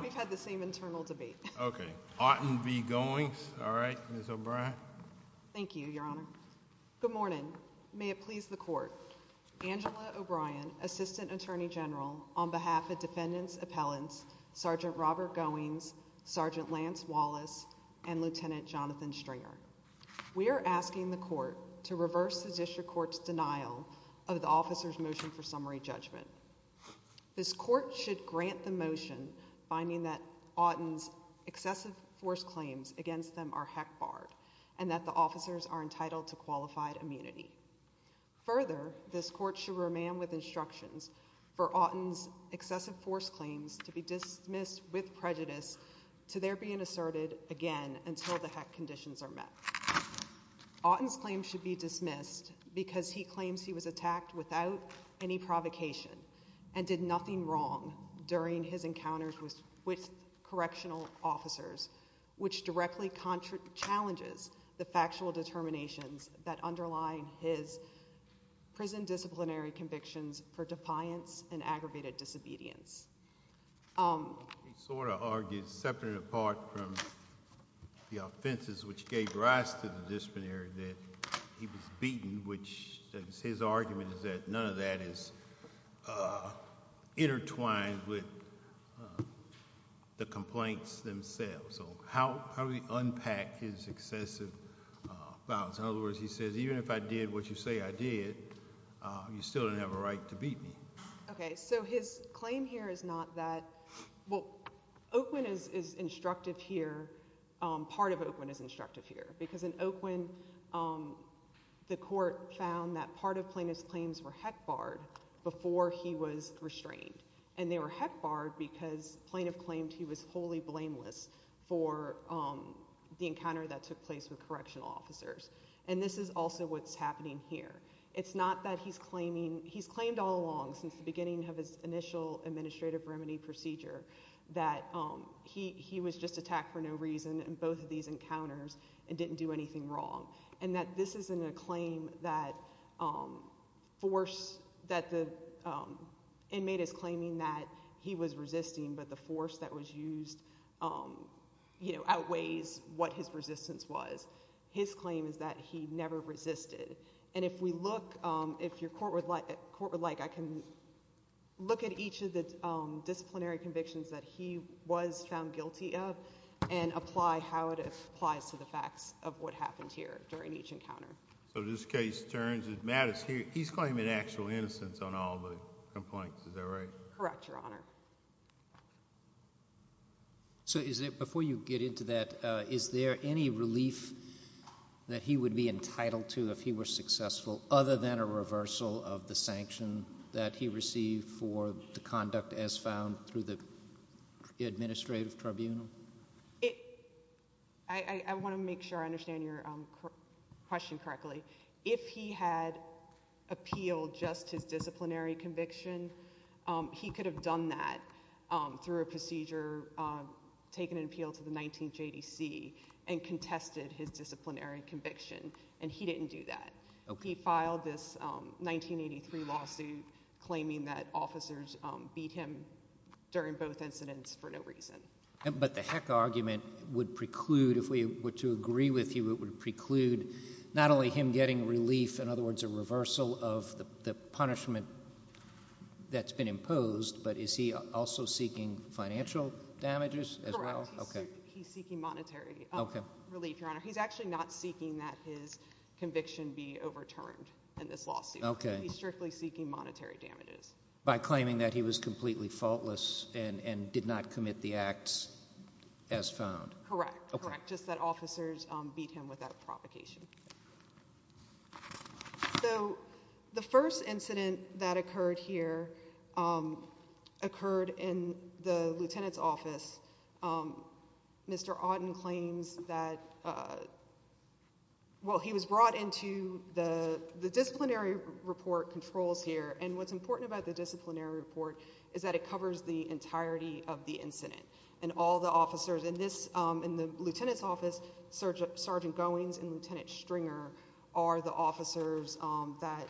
We've had the same internal debate. Okay, Artin v. Goings. All right, Ms. O'Brien. Thank you, Your Honor. Good morning. May it please the Court. Angela O'Brien, Assistant Attorney General, on behalf of Defendant's Appellants Sergeant Robert Goings, Sergeant Lance Wallace, and Lieutenant Jonathan Stringer. We are asking the Court to reverse the District Court's denial of the officer's motion for summary judgment. This Court should grant the motion finding that Artin's excessive force claims against them are HEC barred and that the officers are entitled to qualified immunity. Further, this Court should remain with instructions for Artin's excessive force claims to be dismissed with prejudice to their being asserted again until the HEC conditions are met. Artin's claims should be dismissed because he claims he was attacked without any provocation and did nothing wrong during his encounters with correctional officers, which directly challenges the factual determinations that underline his prison disciplinary convictions for defiance and aggravated disobedience. He sort of argued, separate and apart from the offenses which gave rise to the disciplinary, that he was beaten, which his argument is that none of that is intertwined with the complaints themselves. So how do we unpack his excessive violence? In other words, he says, even if I did what you say I did, you still didn't have a right to beat me. Okay, so his claim here is not that, well, Oakwood is instructive here. Part of Oakwood is instructive here because in Oakwood, the Court found that part of plaintiff's claims were HEC barred before he was restrained. And they were HEC barred because plaintiff claimed he was wholly blameless for the encounter that took place with correctional officers. And this is also what's happening here. It's not that he's claiming, he's claimed all along since the beginning of his initial administrative remedy procedure that he was just attacked for no reason in both of these encounters didn't do anything wrong. And that this isn't a claim that the inmate is claiming that he was resisting, but the force that was used outweighs what his resistance was. His claim is that he never resisted. And if we look, if your Court would like, I can look at each of the disciplinary convictions that he was found guilty of and apply how it applies to the facts of what happened here during each encounter. So this case turns, Matt, he's claiming actual innocence on all the complaints, is that right? Correct, Your Honor. So is it, before you get into that, is there any relief that he would be entitled to if he were successful other than a reversal of the sanction that he received for the conduct as the administrative tribunal? I want to make sure I understand your question correctly. If he had appealed just his disciplinary conviction, he could have done that through a procedure, taken an appeal to the 19th JDC and contested his disciplinary conviction. And he didn't do that. He filed this 1983 lawsuit claiming that officers beat him during both incidents for no reason. But the Heck argument would preclude, if we were to agree with you, it would preclude not only him getting relief, in other words, a reversal of the punishment that's been imposed, but is he also seeking financial damages as well? Correct. He's seeking monetary relief, Your Honor. He's actually not seeking that his conviction be overturned in this lawsuit. Okay. He's strictly seeking monetary damages. By claiming that he was completely faultless and did not commit the acts as found? Correct. Correct. Just that officers beat him without provocation. So the first incident that occurred here occurred in the lieutenant's office. Mr. Auten claims that, well, he was brought into the disciplinary report controls here. And what's important about the disciplinary report is that it covers the entirety of the incident. And all the officers in this, in the lieutenant's office, Sergeant Goings and Lieutenant Stringer are the officers that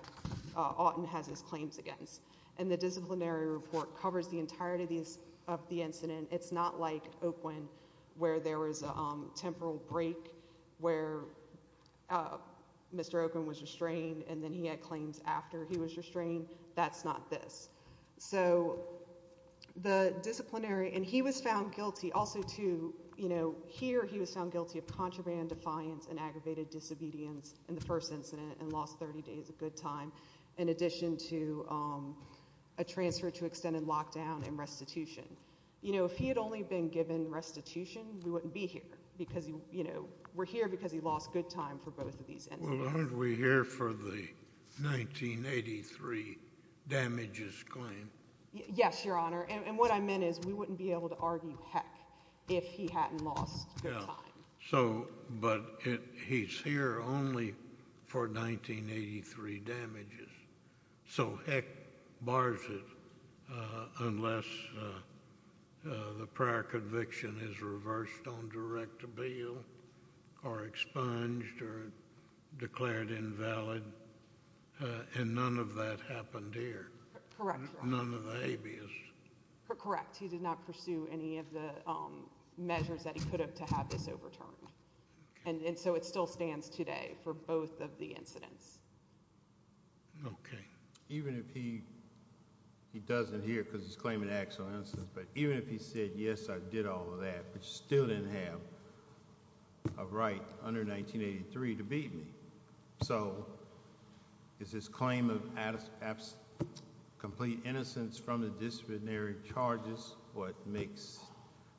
Auten has his claims against. And the disciplinary report covers the entirety of the incident. It's not like Oakland where there was a temporal break where Mr. Oakland was restrained and then he had claims after he was restrained. That's not this. So the disciplinary, and he was found guilty also to, you know, here he was found guilty of contraband defiance and aggravated disobedience in the first incident and lost 30 days of good time in addition to a transfer to extended lockdown and restitution. You know, if he had only been given restitution, we wouldn't be here because, you know, we're here because he lost good time for both of these. Aren't we here for the 1983 damages claim? Yes, your honor. And what I meant is we wouldn't be able to argue heck if he hadn't lost good time. So, but he's here only for 1983 damages. So heck bars it unless the prior conviction is reversed on direct appeal or expunged or declared invalid. And none of that happened here. Correct. None of the habeas. Correct. He did not pursue any of the measures that he could have to have this overturned. And so it still stands today for both of the incidents. Okay. Even if he, he doesn't hear because he's claiming actual innocence, but even if he said, yes, I did all of that, but still didn't have a right under 1983 to beat me. So is this claim of absolute, absolute, complete innocence from the disciplinary charges? What makes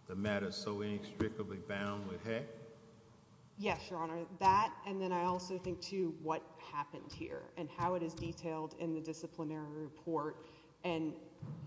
the matter so inextricably bound with heck? Yes, your honor that. And then I also think to what happened here and how it is detailed in the disciplinary report. And,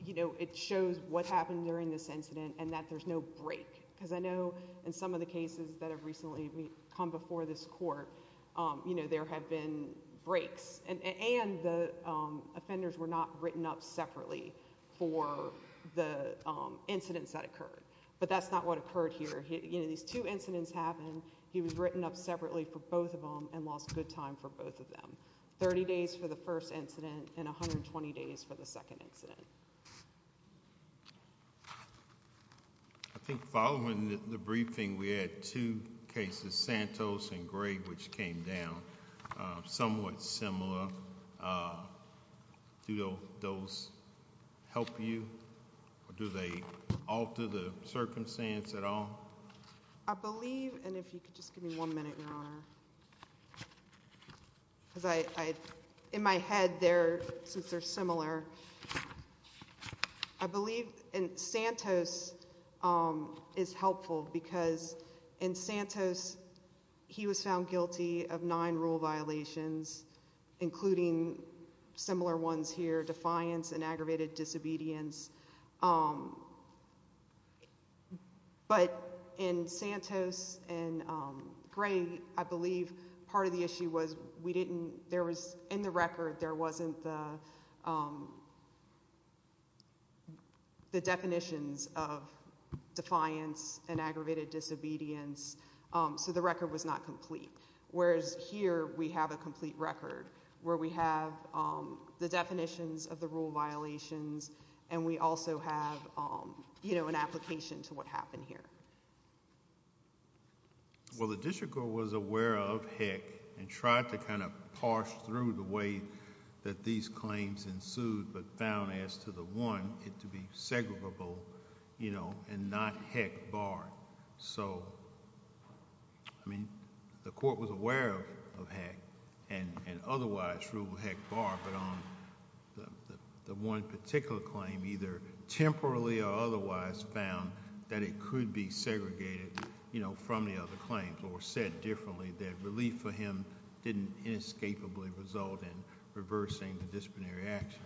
you know, it shows what happened during this incident and that there's no break because I know in some of the cases that have recently come before this court, um, you know, there have been breaks and, and the, um, offenders were not written up separately for the, um, incidents that occurred, but that's not what occurred here. You know, these two incidents happen. He was written up separately for both of them and lost good time for both of them. 30 days for the first incident and 120 days for the second incident. I think following the briefing, we had two cases, Santos and Greg, which came down somewhat similar. Uh, do those help you or do they alter the circumstance at all? I believe. And if you could just give me one minute, your honor, because I, in my head there, since they're similar, I believe in Santos, um, is helpful because in Santos, he was found guilty of nine rule violations, including similar ones here, defiance and aggravated disobedience. Um, but in Santos and, um, Greg, I believe part of the issue was we didn't, there was in the record, there wasn't the, um, the definitions of defiance and aggravated disobedience. Um, so the record was not complete. Whereas here we have a complete record where we have, um, the definitions of the rule violations and we also have, um, you know, an application to what happened here. Well, the district court was aware of HEC and tried to kind of parse through the way that these claims ensued, but found as to the one it to be segregable, you know, and not HEC barred. So, I mean, the court was aware of HEC and otherwise rule HEC barred, but on the one particular claim, either temporarily or otherwise found that it could be segregated, you know, from the other claims or said differently, that relief for him didn't inescapably result in reversing the disciplinary action.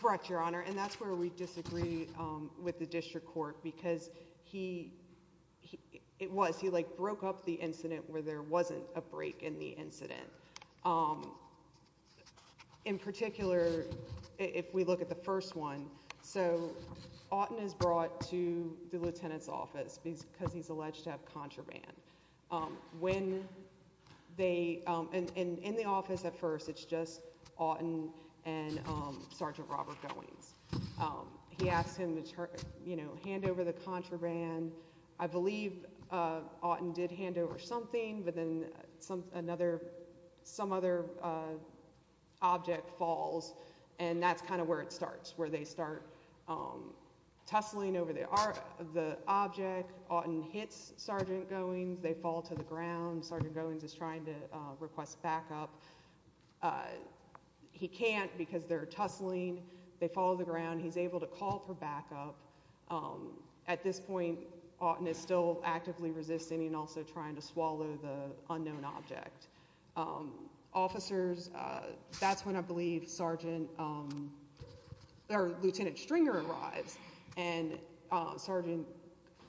Correct, your honor. And that's where we disagree, um, with the district court because he, he, it was, he like broke up the incident where there wasn't a break in the incident. Um, in particular, if we look at the first one, so Otten is brought to the lieutenant's office because he's alleged to have contraband. Um, when they, um, and, and in the office at first, it's just Otten and, um, Sergeant Robert Goings. Um, he asked him to, you know, hand over the contraband. I believe, uh, Otten did hand over something, but then some, another, some other, uh, object falls and that's kind of where it starts, where they start, um, tussling over the art, the object, Otten hits Sergeant Goings, they fall to the ground, Sergeant Goings is trying to, uh, request backup. Uh, he can't because they're tussling, they fall to the ground, he's able to call for backup. Um, at this point, Otten is still actively resisting and also trying to swallow the unknown object. Um, officers, uh, that's when I believe Sergeant, um, or Lieutenant Stringer arrives and, uh, Sergeant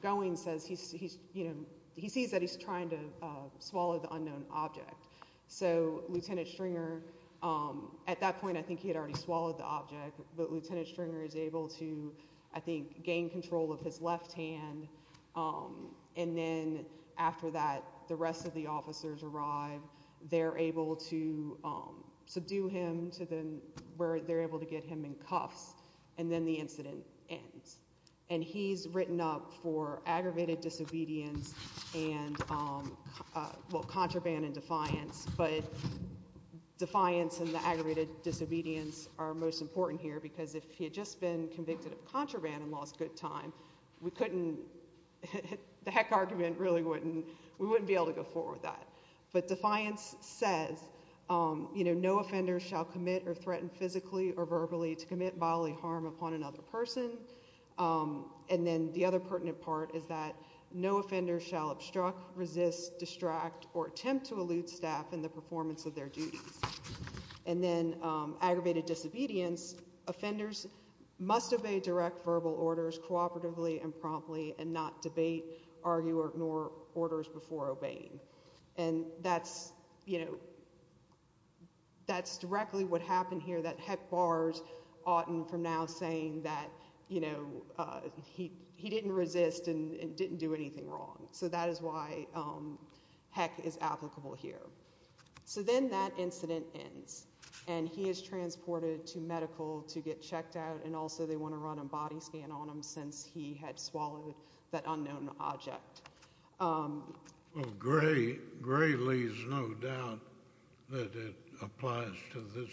Goings says he's, he's, you know, he sees that he's trying to, uh, swallow the unknown object. So, Lieutenant Stringer, um, at that point, I think he had already swallowed the object, but Lieutenant Stringer is able to, I think, gain control of his left hand, um, and then after that, the rest of the officers arrive, they're able to, um, subdue him to the, where they're able to get him in cuffs, and then the incident ends. And he's written up for aggravated disobedience and, um, uh, well, contraband and defiance, but defiance and the aggravated disobedience are most important here because if he had just been convicted of contraband and lost good time, we couldn't, the heck argument really wouldn't, we wouldn't be able to go forward with that. But defiance says, um, you know, no offenders shall commit or threaten physically or verbally to commit bodily harm upon another person. Um, and then the other pertinent part is that no offender shall obstruct, resist, distract, or attempt to elude staff in the performance of their duties. And then, um, aggravated disobedience, offenders must obey direct verbal orders cooperatively and that's directly what happened here, that heck bars Otten from now saying that, you know, uh, he, he didn't resist and didn't do anything wrong. So that is why, um, heck is applicable here. So then that incident ends and he is transported to medical to get checked out and also they want to run a body scan on him since he had swallowed that unknown object. Um. Well, Gray, Gray leaves no doubt that it applies to this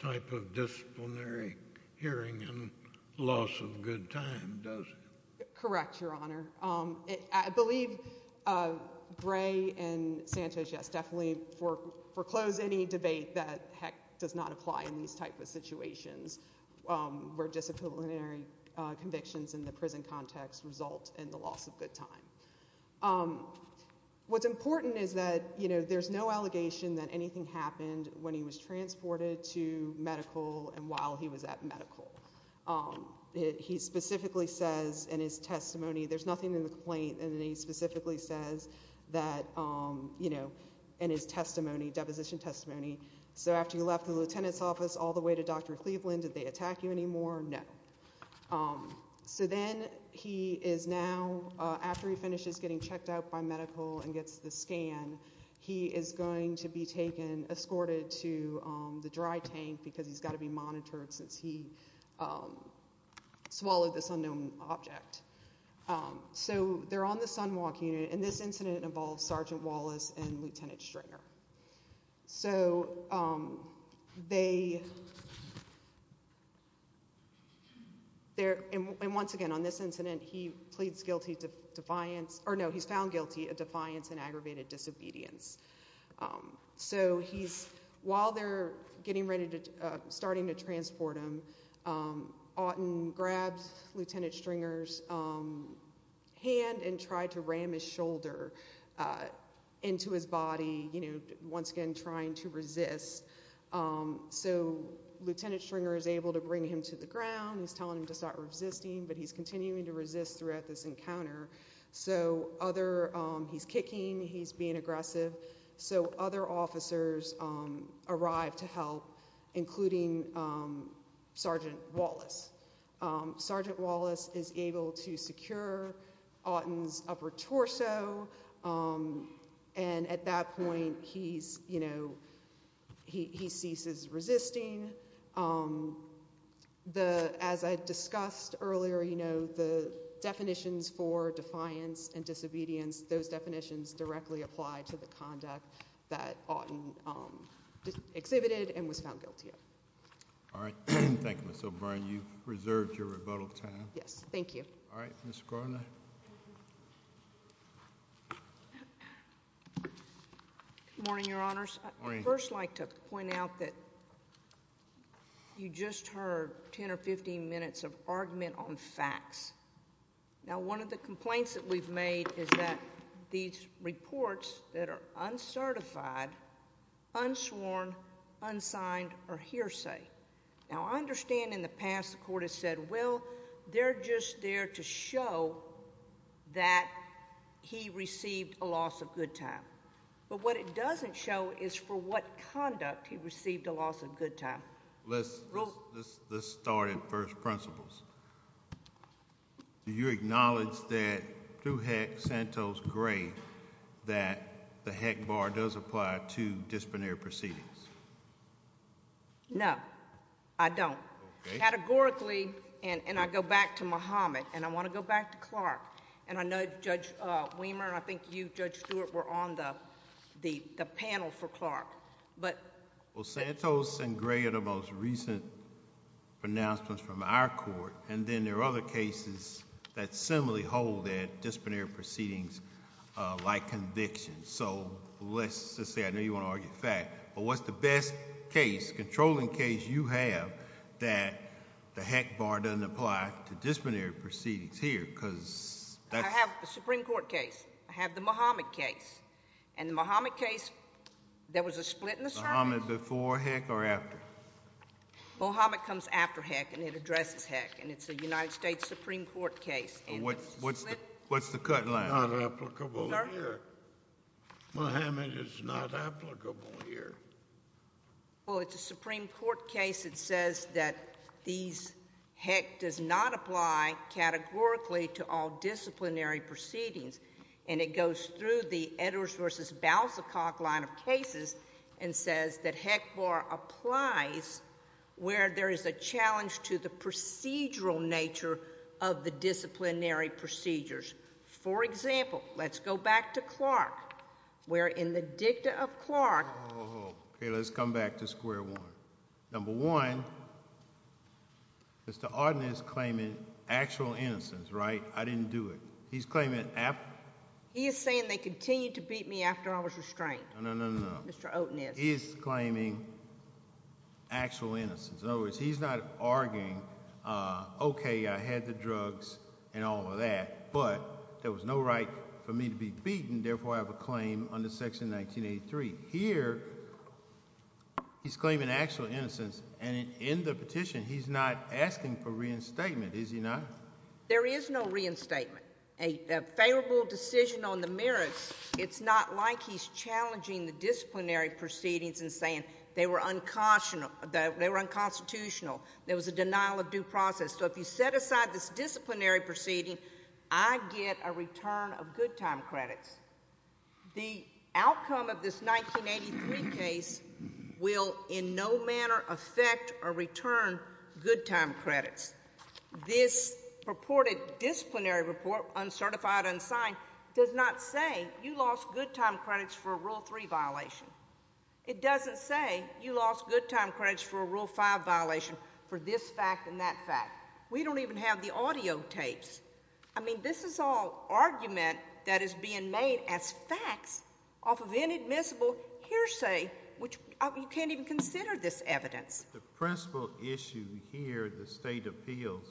type of disciplinary hearing and loss of good time, does it? Correct, Your Honor. Um, I believe, uh, Gray and Santos, yes, definitely for, foreclose any debate that heck does not apply in these type of situations, um, where disciplinary, uh, convictions in the prison context result in the loss of good time. Um, what's important is that, you know, there's no allegation that anything happened when he was transported to medical and while he was at medical. Um, he specifically says in his testimony, there's nothing in the complaint and then he specifically says that, um, you know, in his testimony, deposition testimony. So after you left the lieutenant's office all the way to Dr. Cleveland, did they attack you anymore? No. Um, so then he is now, uh, after he finishes getting checked out by medical and gets the scan, he is going to be taken, escorted to, um, the dry tank because he's got to be monitored since he, um, swallowed this unknown object. Um, so they're on the sunwalk unit and this incident involves Sergeant Wallace and Lieutenant Stringer. So, um, they, they're, and once again on this incident, he pleads guilty to defiance or no, he's found guilty of defiance and aggravated disobedience. Um, so he's, while they're getting ready to, uh, starting to transport him, um, Auten grabs Lieutenant Stringer's, um, hand and tried to ram his shoulder, uh, into his body, you know, once again, trying to resist. Um, so Lieutenant Stringer is able to bring him to the ground. He's telling him to start resisting, but he's continuing to resist throughout this encounter. So other, um, he's kicking, he's being aggressive. So other officers, um, arrived to help including, um, Sergeant Wallace. Um, Sergeant Wallace is able to secure Auten's upper torso. Um, and at that point he's, you know, he, he ceases resisting. Um, the, as I discussed earlier, you know, the definitions for defiance and disobedience, those definitions directly apply to the conduct that Auten, um, exhibited and was found guilty of. All right. Thank you, Ms. O'Brien. You've reserved your rebuttal time. Yes. Thank you. All right, Ms. Cronin. Good morning, Your Honors. I'd first like to point out that you just heard 10 or 15 minutes of argument on facts. Now, one of the complaints that we've made is that these reports that are uncertified, unsworn, unsigned, or hearsay. Now, I understand in the past, the court has said, well, they're just there to show that he received a loss of good time. But what it doesn't show is for what conduct he received a loss of good time. Let's, let's start at first principles. Do you acknowledge that through Hecht, Santos, Gray, that the Hecht Bar does apply to disciplinary proceedings? No, I don't. Categorically, and I go back to Muhammad, and I want to go back to Clark, and I know Judge Wehmer, I think you, Judge Stewart, were on the panel for Clark, but... Well, Santos and Gray are the most recent pronouncements from our court, and then there are other cases that similarly hold that disciplinary proceedings like convictions. So, let's just say, I know you want to argue fact, but what's the best case, controlling case you have that the Hecht Bar doesn't apply to disciplinary proceedings here? Because... I have the Supreme Court case. I have the Muhammad case. And the Muhammad case, there was a split in the... Muhammad before Hecht or after? Muhammad comes after Hecht, and it addresses Hecht, and it's a United States Supreme Court case, and... What's the cut line? Not applicable here. Muhammad is not applicable here. Well, it's a Supreme Court case that says that these... Hecht does not apply categorically to all disciplinary proceedings, and it goes through the Edwards versus Balsakoff line of cases and says that Hecht Bar applies where there is a challenge to the procedural nature of the disciplinary procedures. For example, let's go back to Clark, where in the dicta of Clark... Oh, okay. Let's come back to square one. Number one, Mr. Otten is claiming actual innocence, right? I didn't do it. He's claiming after... He is saying they continued to beat me after I was restrained. No, no, no, no, no. Mr. Otten is. He is claiming actual innocence. In other words, he's not arguing, okay, I had the drugs and all of that, but there was no right for me to be beaten. Therefore, I have a claim under Section 1983. Here, he's claiming actual innocence, and in the petition, he's not asking for reinstatement, is he not? There is no reinstatement. A favorable decision on the merits, it's not like he's challenging the disciplinary proceedings and saying they were unconstitutional, there was a denial of due process. So if you set aside this disciplinary proceeding, I get a return of good time credits. The outcome of this 1983 case will in no manner affect or return good time credits. This purported disciplinary report, uncertified, unsigned, does not say you lost good time credits for a Rule 3 violation. It doesn't say you lost good time credits for a Rule 5 violation for this fact and that fact. We don't even have the audiotapes. I mean, this is all argument that is being made as facts off of inadmissible hearsay, which you can't even consider this evidence. The principal issue here at the state appeals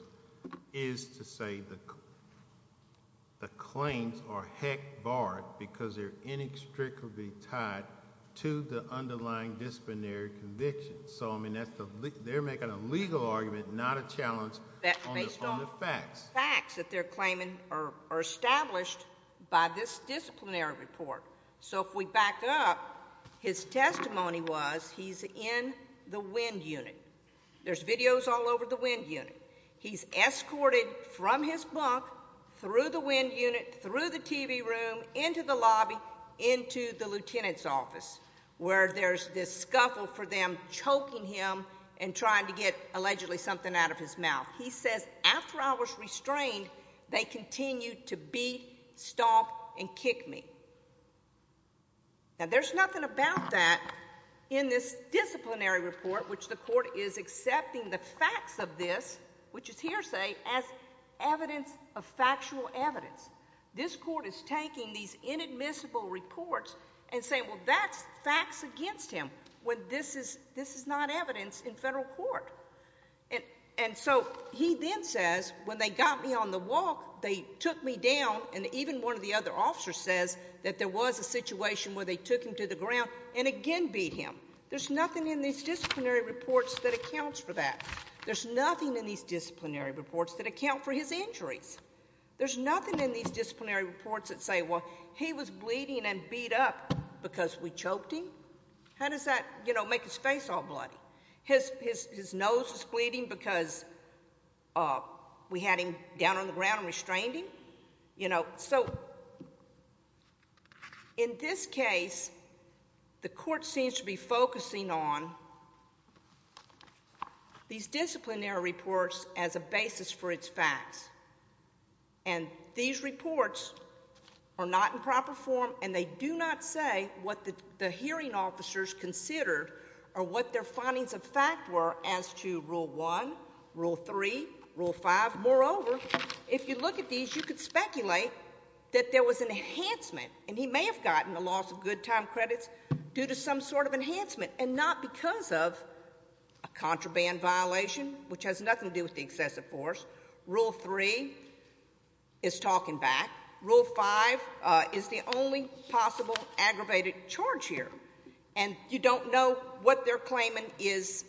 is to say the claims are heck barred because they're inextricably tied to the underlying disciplinary convictions. So I mean, they're making a legal argument, not a challenge, based on the facts that they're claiming are established by this disciplinary report. So if we back up, his testimony was he's in the wind unit. There's videos all over the wind unit. He's escorted from his bunk, through the wind unit, through the TV room, into the lobby, into the lieutenant's office, where there's this scuffle for them choking him and trying to get allegedly something out of his mouth. He says, after I was restrained, they continued to beat, stomp, and kick me. Now there's nothing about that in this disciplinary report, which the court is accepting the facts of this, which is hearsay, as evidence of factual evidence. This court is taking these inadmissible reports and saying, well, that's facts against him, when this is not evidence in federal court. And so he then says, when they got me on the walk, they took me down, and even one of the other officers says that there was a situation where they took him to the ground and again beat him. There's nothing in these disciplinary reports that accounts for that. There's nothing in these disciplinary reports that account for his injuries. There's nothing in these disciplinary reports that say, well, he was bleeding and beat up because we choked him. How does that, you know, make his face all bloody? His nose was bleeding because we had him down on the ground and restrained him? You know, so in this case, the court seems to be focusing on these disciplinary reports as a basis for its facts. And these reports are not in proper form, and they do not say what the hearing officers considered or what their findings of fact were as to Rule 1, Rule 3, Rule 5. Moreover, if you look at these, you could speculate that there was an enhancement, and he may have gotten a loss of good time credits due to some sort of enhancement, and not because of a contraband violation, which has nothing to do with the excessive force. Rule 3 is talking back. Rule 5 is the only possible aggravated charge here. And you don't know what they're claiming is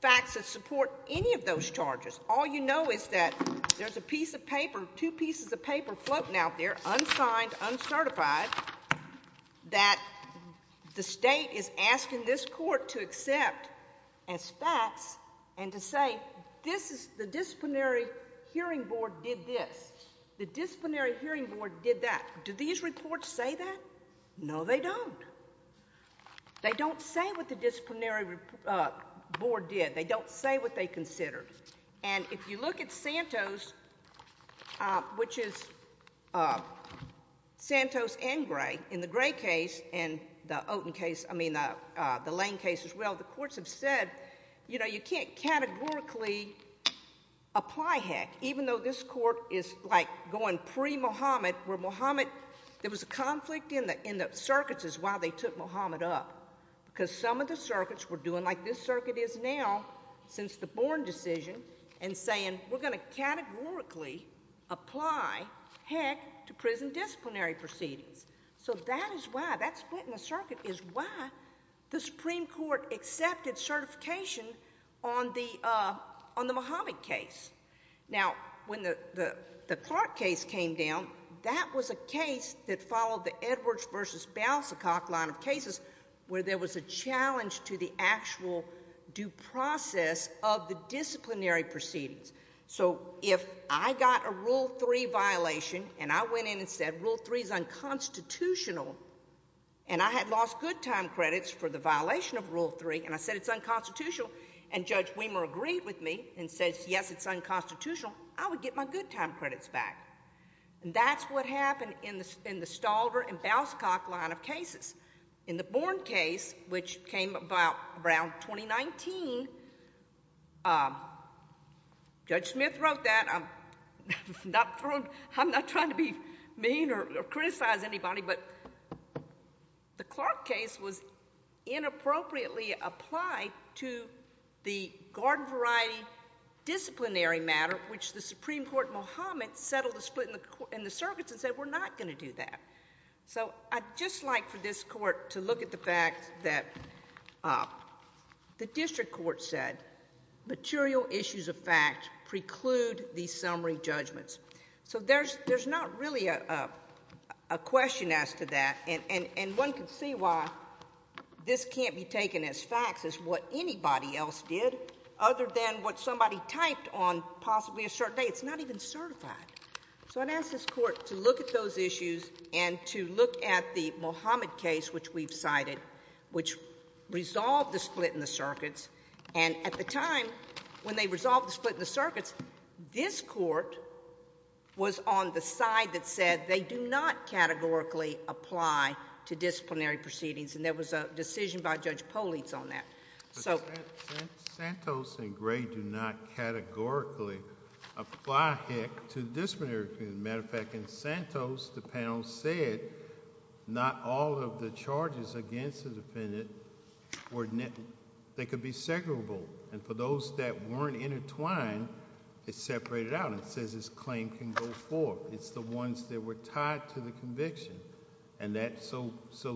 facts that support any of those charges. All you know is that there's a piece of paper, two pieces of paper, floating out there, unsigned, uncertified, that the state is asking this court to accept as facts and to say, this is the disciplinary hearing board did this. The disciplinary hearing board did that. Do these reports say that? No, they don't. They don't say what the disciplinary board did. They don't say what they considered. And if you look at Santos, which is Santos and Gray, in the Gray case and the Oten case, I mean the Lane case as well, the courts have said, you know, you can't categorically apply heck, even though this court is like going pre-Muhammad, where Muhammad, there was a conflict in the circuits is why they took Muhammad up, because some of the circuits were doing like this circuit is now, since the disciplinary proceedings. So that is why that split in the circuit is why the Supreme Court accepted certification on the Muhammad case. Now, when the Clark case came down, that was a case that followed the Edwards versus Balsakoff line of cases, where there was a challenge to the actual due process of the disciplinary proceedings. So if I got a Rule 3 violation, and I went in and said, Rule 3 is unconstitutional, and I had lost good time credits for the violation of Rule 3, and I said it's unconstitutional, and Judge Weimer agreed with me and says, yes, it's unconstitutional, I would get my good time credits back. And that's what happened in the Stalver and Balsakoff line of cases. In the Born case, which came about around 2019, Judge Smith wrote that, I'm not trying to be mean or criticize anybody, but the Clark case was inappropriately applied to the garden variety disciplinary matter, which the Supreme Court, Muhammad settled the split in the circuits and said, we're not going to do that. So I'd just like for this Court to look at the fact that the district court said, material issues of fact preclude these summary judgments. So there's not really a question as to that, and one can see why this can't be taken as facts as what anybody else did, other than what somebody typed on possibly a certain day. It's not even certified. So I'd ask this Court to look at those issues and to look at the Muhammad case, which we've cited, which resolved the split in the circuits, and at the time, when they resolved the split in the circuits, this Court was on the side that said they do not categorically apply to disciplinary proceedings, and there was a decision by Judge Poliz on that. But Santos and Gray do not categorically apply HEC to disciplinary proceedings. As a matter of fact, in Santos, the panel said not all of the charges against the defendant were, they could be segregable, and for those that weren't intertwined, it separated out and says this claim can go forward. It's the ones that were tied to the conviction, and so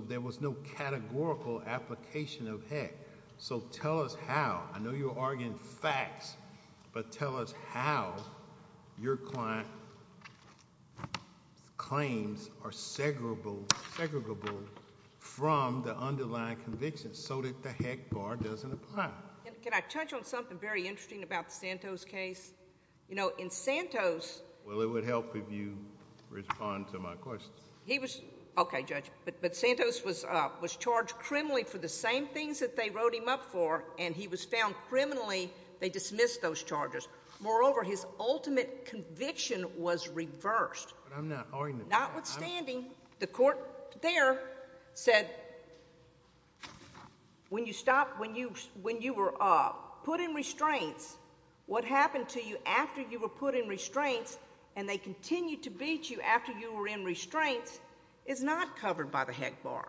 there was no categorical application of HEC. So tell us how. I know you're arguing facts, but tell us how your client's claims are segregable from the underlying conviction so that the HEC bar doesn't apply. Can I touch on something very interesting about the Santos case? You know, in Santos... Well, it would help if you respond to my question. He was, okay, Judge, but Santos was charged criminally for the same things that they wrote him up for, and he was found criminally. They dismissed those charges. Moreover, his ultimate conviction was reversed. But I'm not arguing that. Notwithstanding, the Court there said when you stopped, when you were put in restraints, what happened to you after you were put in restraints and they continued to beat you after you were in restraints is not covered by the HEC bar,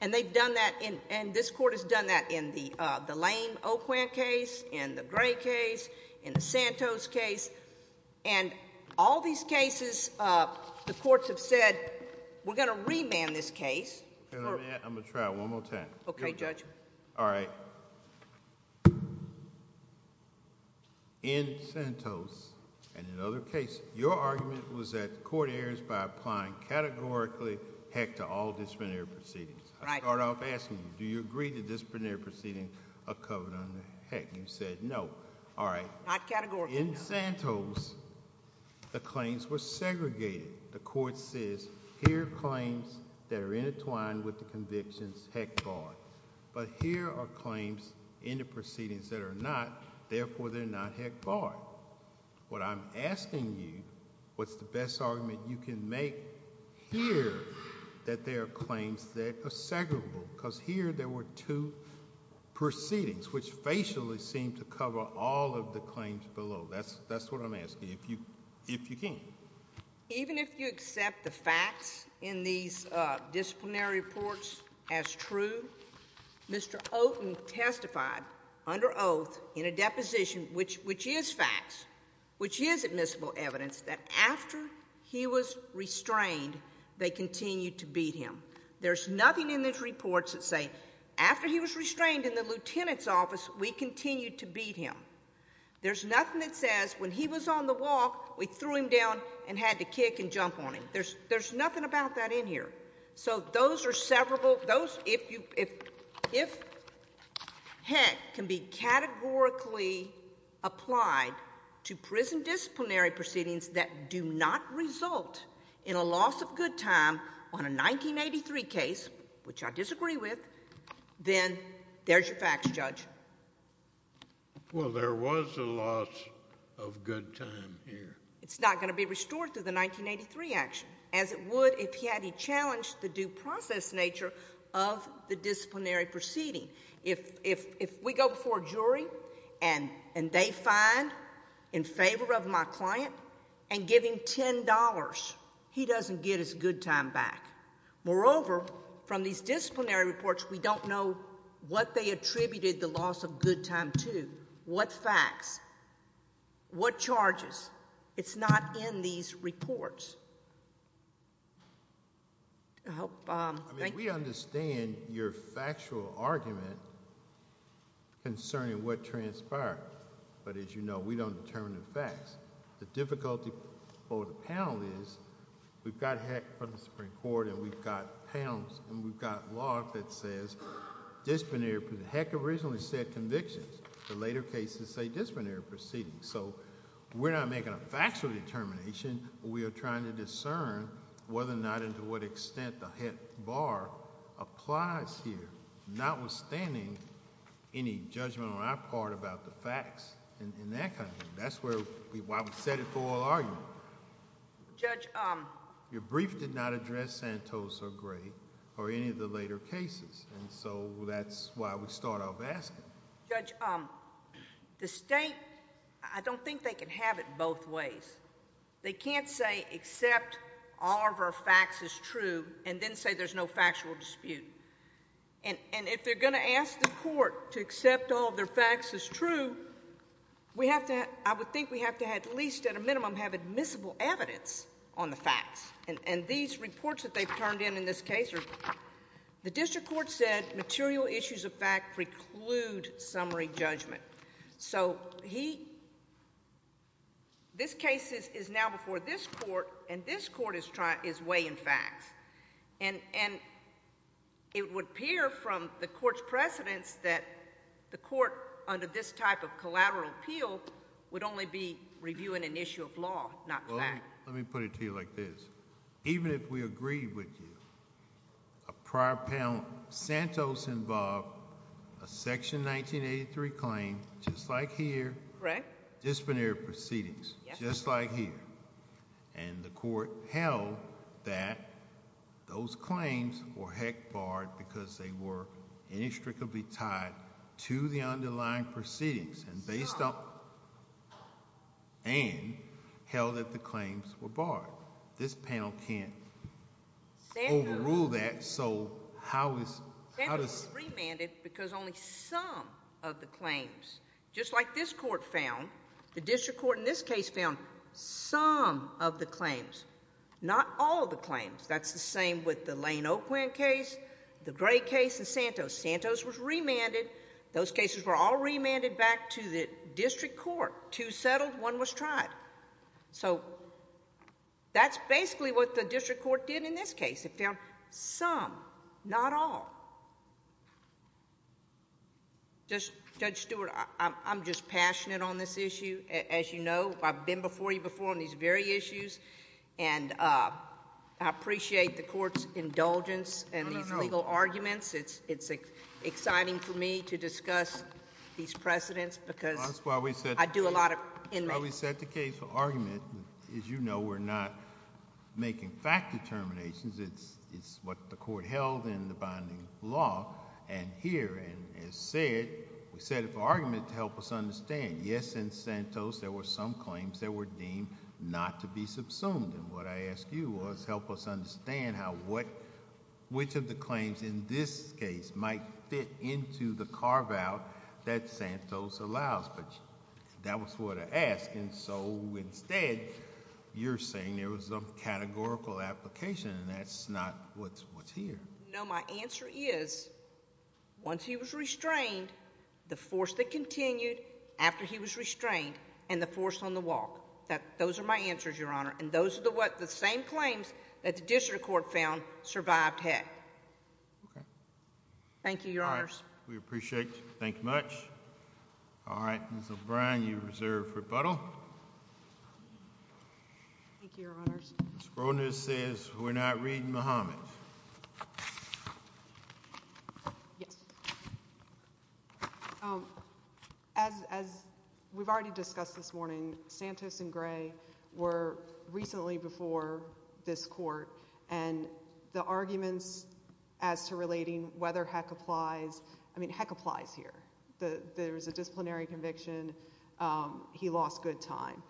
and they've done that, and this Court has done that in the Lane-Oquan case, in the Gray case, in the Santos case, and all these cases, the Courts have said we're going to remand this case. I'm going to try one more time. Okay, Judge. All right. In Santos and in other cases, your argument was that the Court errs by applying categorically HEC to all disciplinary proceedings. I start off asking you, do you agree that disciplinary proceedings are covered under HEC? You said no. All right. In Santos, the claims were segregated. The Court says here are claims that are intertwined with the convictions HEC bar, but here are claims in the proceedings that are not. Therefore, they're not HEC bar. What I'm asking you, what's the best argument you can make here that there are claims that are segregable? Because here there were two proceedings which facially seem to cover all of the claims below. That's what I'm asking, if you can. Even if you accept the facts in these disciplinary reports as true, Mr. Oten testified under oath in a deposition, which is facts, which is admissible evidence, that after he was restrained, they continued to beat him. There's nothing in these reports that say, after he was restrained in the Lieutenant's office, we continued to beat him. There's nothing that says, when he was on the walk, we threw him down and had to kick and jump on him. There's nothing about that in here. If HEC can be categorically applied to prison disciplinary proceedings that do not result in a loss of good time on a 1983 case, which I disagree with, then there's your facts, Judge. Well, there was a loss of good time here. It's not going to be restored through the 1983 action, as it would if he had he challenged the due process nature of the disciplinary proceeding. If we go before a jury and they find in favor of my client and give him $10, he doesn't get his good time back. Moreover, from these disciplinary reports, we don't know what they attributed the loss of good time to, what facts, what charges, it's not in these reports. We understand your factual argument concerning what transpired, but as you know, we don't determine the facts. The difficulty for the panel is we've got HEC from the Supreme Court, and we've got panels, and we've got law that says disciplinary. HEC originally said convictions. The later cases say disciplinary proceedings. We're not making a factual determination. We are trying to discern whether or not and to what extent the HEC bar applies here, notwithstanding any judgment on our part about the facts and that kind of thing. That's why we set it for an argument. Your brief did not address Santos or Gray or any of the later cases, and so that's why we start off asking. Judge, the state, I don't think they can have it both ways. They can't say, accept all of our facts as true, and then say there's no factual dispute. And if they're going to ask the court to accept all of their facts as true, I would think we have to at least at a minimum have admissible evidence on the facts. And these reports that they've turned in in this case, the district court said material issues of fact preclude summary judgment. So he, this case is now before this court, and this court is trying, is weighing facts. And it would appear from the court's precedents that the court under this type of collateral appeal would only be reviewing an issue of law, not fact. Well, let me put it to you like this. Even if we agree with you, a prior panel, Santos involved a section 1983 claim, just like here. Correct. Disciplinary proceedings, just like here. And the court held that those claims were heck barred because they were inextricably tied to the underlying proceedings, based on, and held that the claims were barred. This panel can't overrule that, so how is, because only some of the claims, just like this court found, the district court in this case found some of the claims, not all of the claims. That's the same with the Lane-Oakland case, the Gray case, and Santos. Santos was remanded. Those cases were all remanded back to the district court. Two settled, one was tried. So that's basically what the district court did in this case. It found some, not all. Judge Stewart, I'm just passionate on this issue. As you know, I've been before you before on these very issues, and I appreciate the court's indulgence in these legal arguments. It's exciting for me to discuss these precedents because I do a lot in that. That's why we set the case for argument. As you know, we're not making fact determinations. It's what the court held in the binding law. And here, as said, we set it for argument to help us understand. Yes, in Santos, there were some claims that were deemed not to be subsumed. And what I asked you was, help us understand which of the claims in this case might fit into the carve-out that Santos allows. But that was what I asked. And so instead, you're saying there was some categorical application, and that's not what's here. No, my answer is, once he was restrained, the force that continued after he was restrained, and the force on the walk. Those are my answers, Your Honor. And those are the same claims that the district court found survived Heck. Okay. Thank you, Your Honors. We appreciate it. Thank you much. All right. Ms. O'Brien, you're reserved for rebuttal. Thank you, Your Honors. Ms. Broadness says we're not reading Muhammad. Yes. As we've already discussed this morning, Santos and Gray were recently before this court, and the arguments as to relating whether Heck applies, I mean, Heck applies here. There's a disciplinary conviction. He lost good time.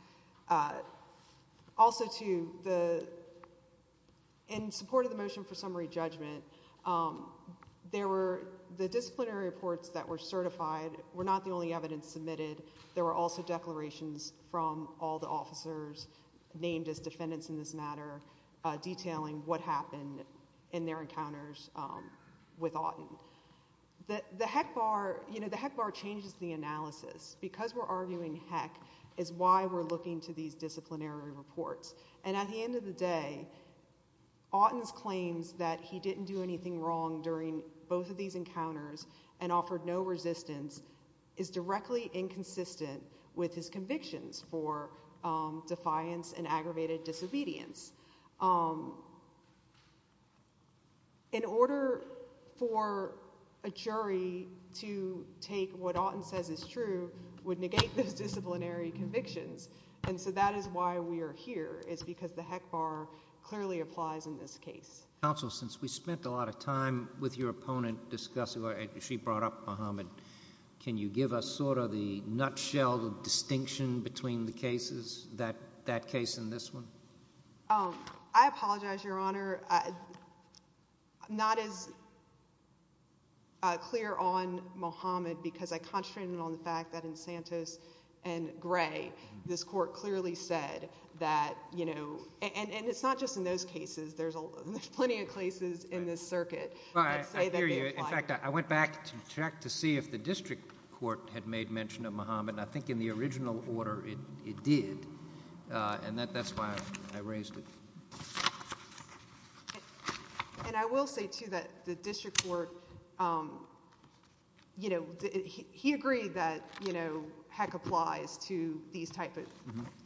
Also, too, in support of the motion for summary judgment, the disciplinary reports that were certified were not the only evidence submitted. There were also declarations from all the officers named as defendants in this matter detailing what happened in their encounters with Auten. The Heck bar changes the analysis. Because we're arguing Heck is why we're looking to these disciplinary reports. And at the end of the day, Auten's claims that he didn't do anything wrong during both of these encounters and offered no resistance is directly inconsistent with his convictions for defiance and aggravated disobedience. In order for a jury to take what Auten says is true would negate those disciplinary convictions. And so that is why we are here, is because the Heck bar clearly applies in this case. Counsel, since we spent a lot of time with your opponent discussing what she brought up, Muhammad, can you give us sort of the nutshell, the distinction between the cases, that case and this one? I apologize, Your Honor. I'm not as clear on Muhammad because I concentrated on the fact that in Santos and Gray, this Court clearly said that, you know, and it's not just in those cases. There's plenty of cases in this circuit. I hear you. In fact, I went back to check to see if the district court had made mention of Muhammad. I think in the original order it did. And that's why I raised it. And I will say, too, that the district court, you know, he agreed that, you know, Heck applies to these type of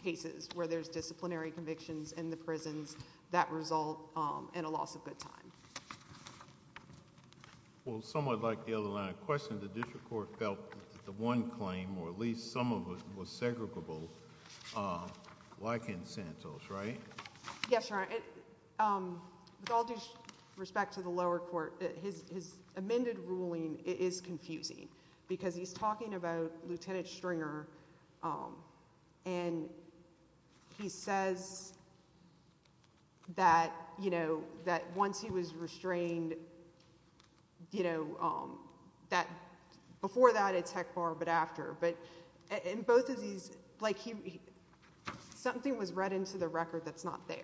cases where there's disciplinary convictions in the prisons that result in a loss of good time. Well, somewhat like the other line of question, the district court felt that the one claim, or at least some of it, was segregable, like in Santos, right? Yes, Your Honor. With all due respect to the lower court, his amended ruling is confusing because he's talking about Lieutenant Stringer and he says that, you know, that once he was restrained, you know, that before that it's Heck bar but after. But in both of these, like, something was read into the record that's not there.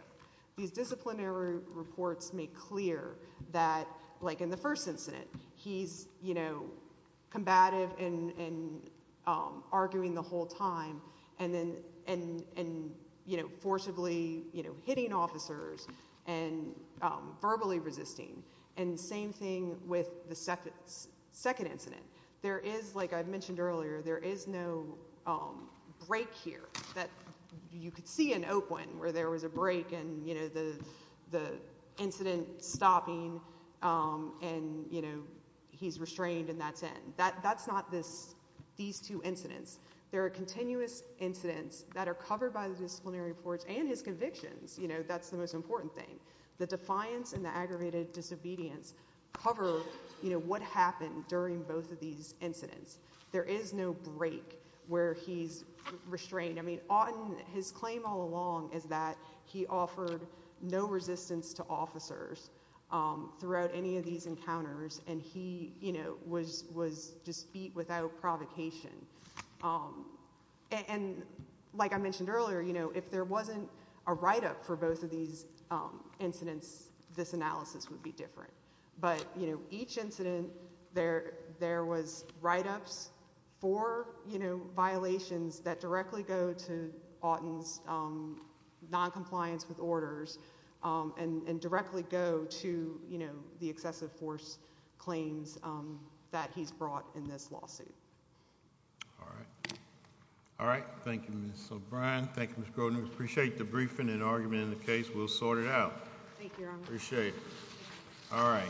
These disciplinary reports make clear that, like in the first incident, he's, you know, combative and arguing the whole time and then, you know, forcibly, you know, hitting officers and verbally resisting. And same thing with the second incident. There is, like I mentioned earlier, there is no break here that you could see in Oakland where there was a break and, you know, the incident stopping and, you know, he's restrained and that's it. That's not these two incidents. There are continuous incidents that are covered by the disciplinary reports and his convictions, you know, that's the most important thing. The defiance and the aggravated disobedience cover, you know, what happened during both of these incidents. There is no break where he's throughout any of these encounters and he, you know, was just beat without provocation. And like I mentioned earlier, you know, if there wasn't a write-up for both of these incidents, this analysis would be different. But, you know, each incident, there was write-ups for, you know, violations that directly go to Auten's noncompliance with orders and directly go to, you know, the excessive force claims that he's brought in this lawsuit. All right. All right. Thank you, Ms. O'Brien. Thank you, Ms. Grodin. We appreciate the briefing and argument in the case. We'll sort it out. Thank you, Your Honor. Appreciate it. All right.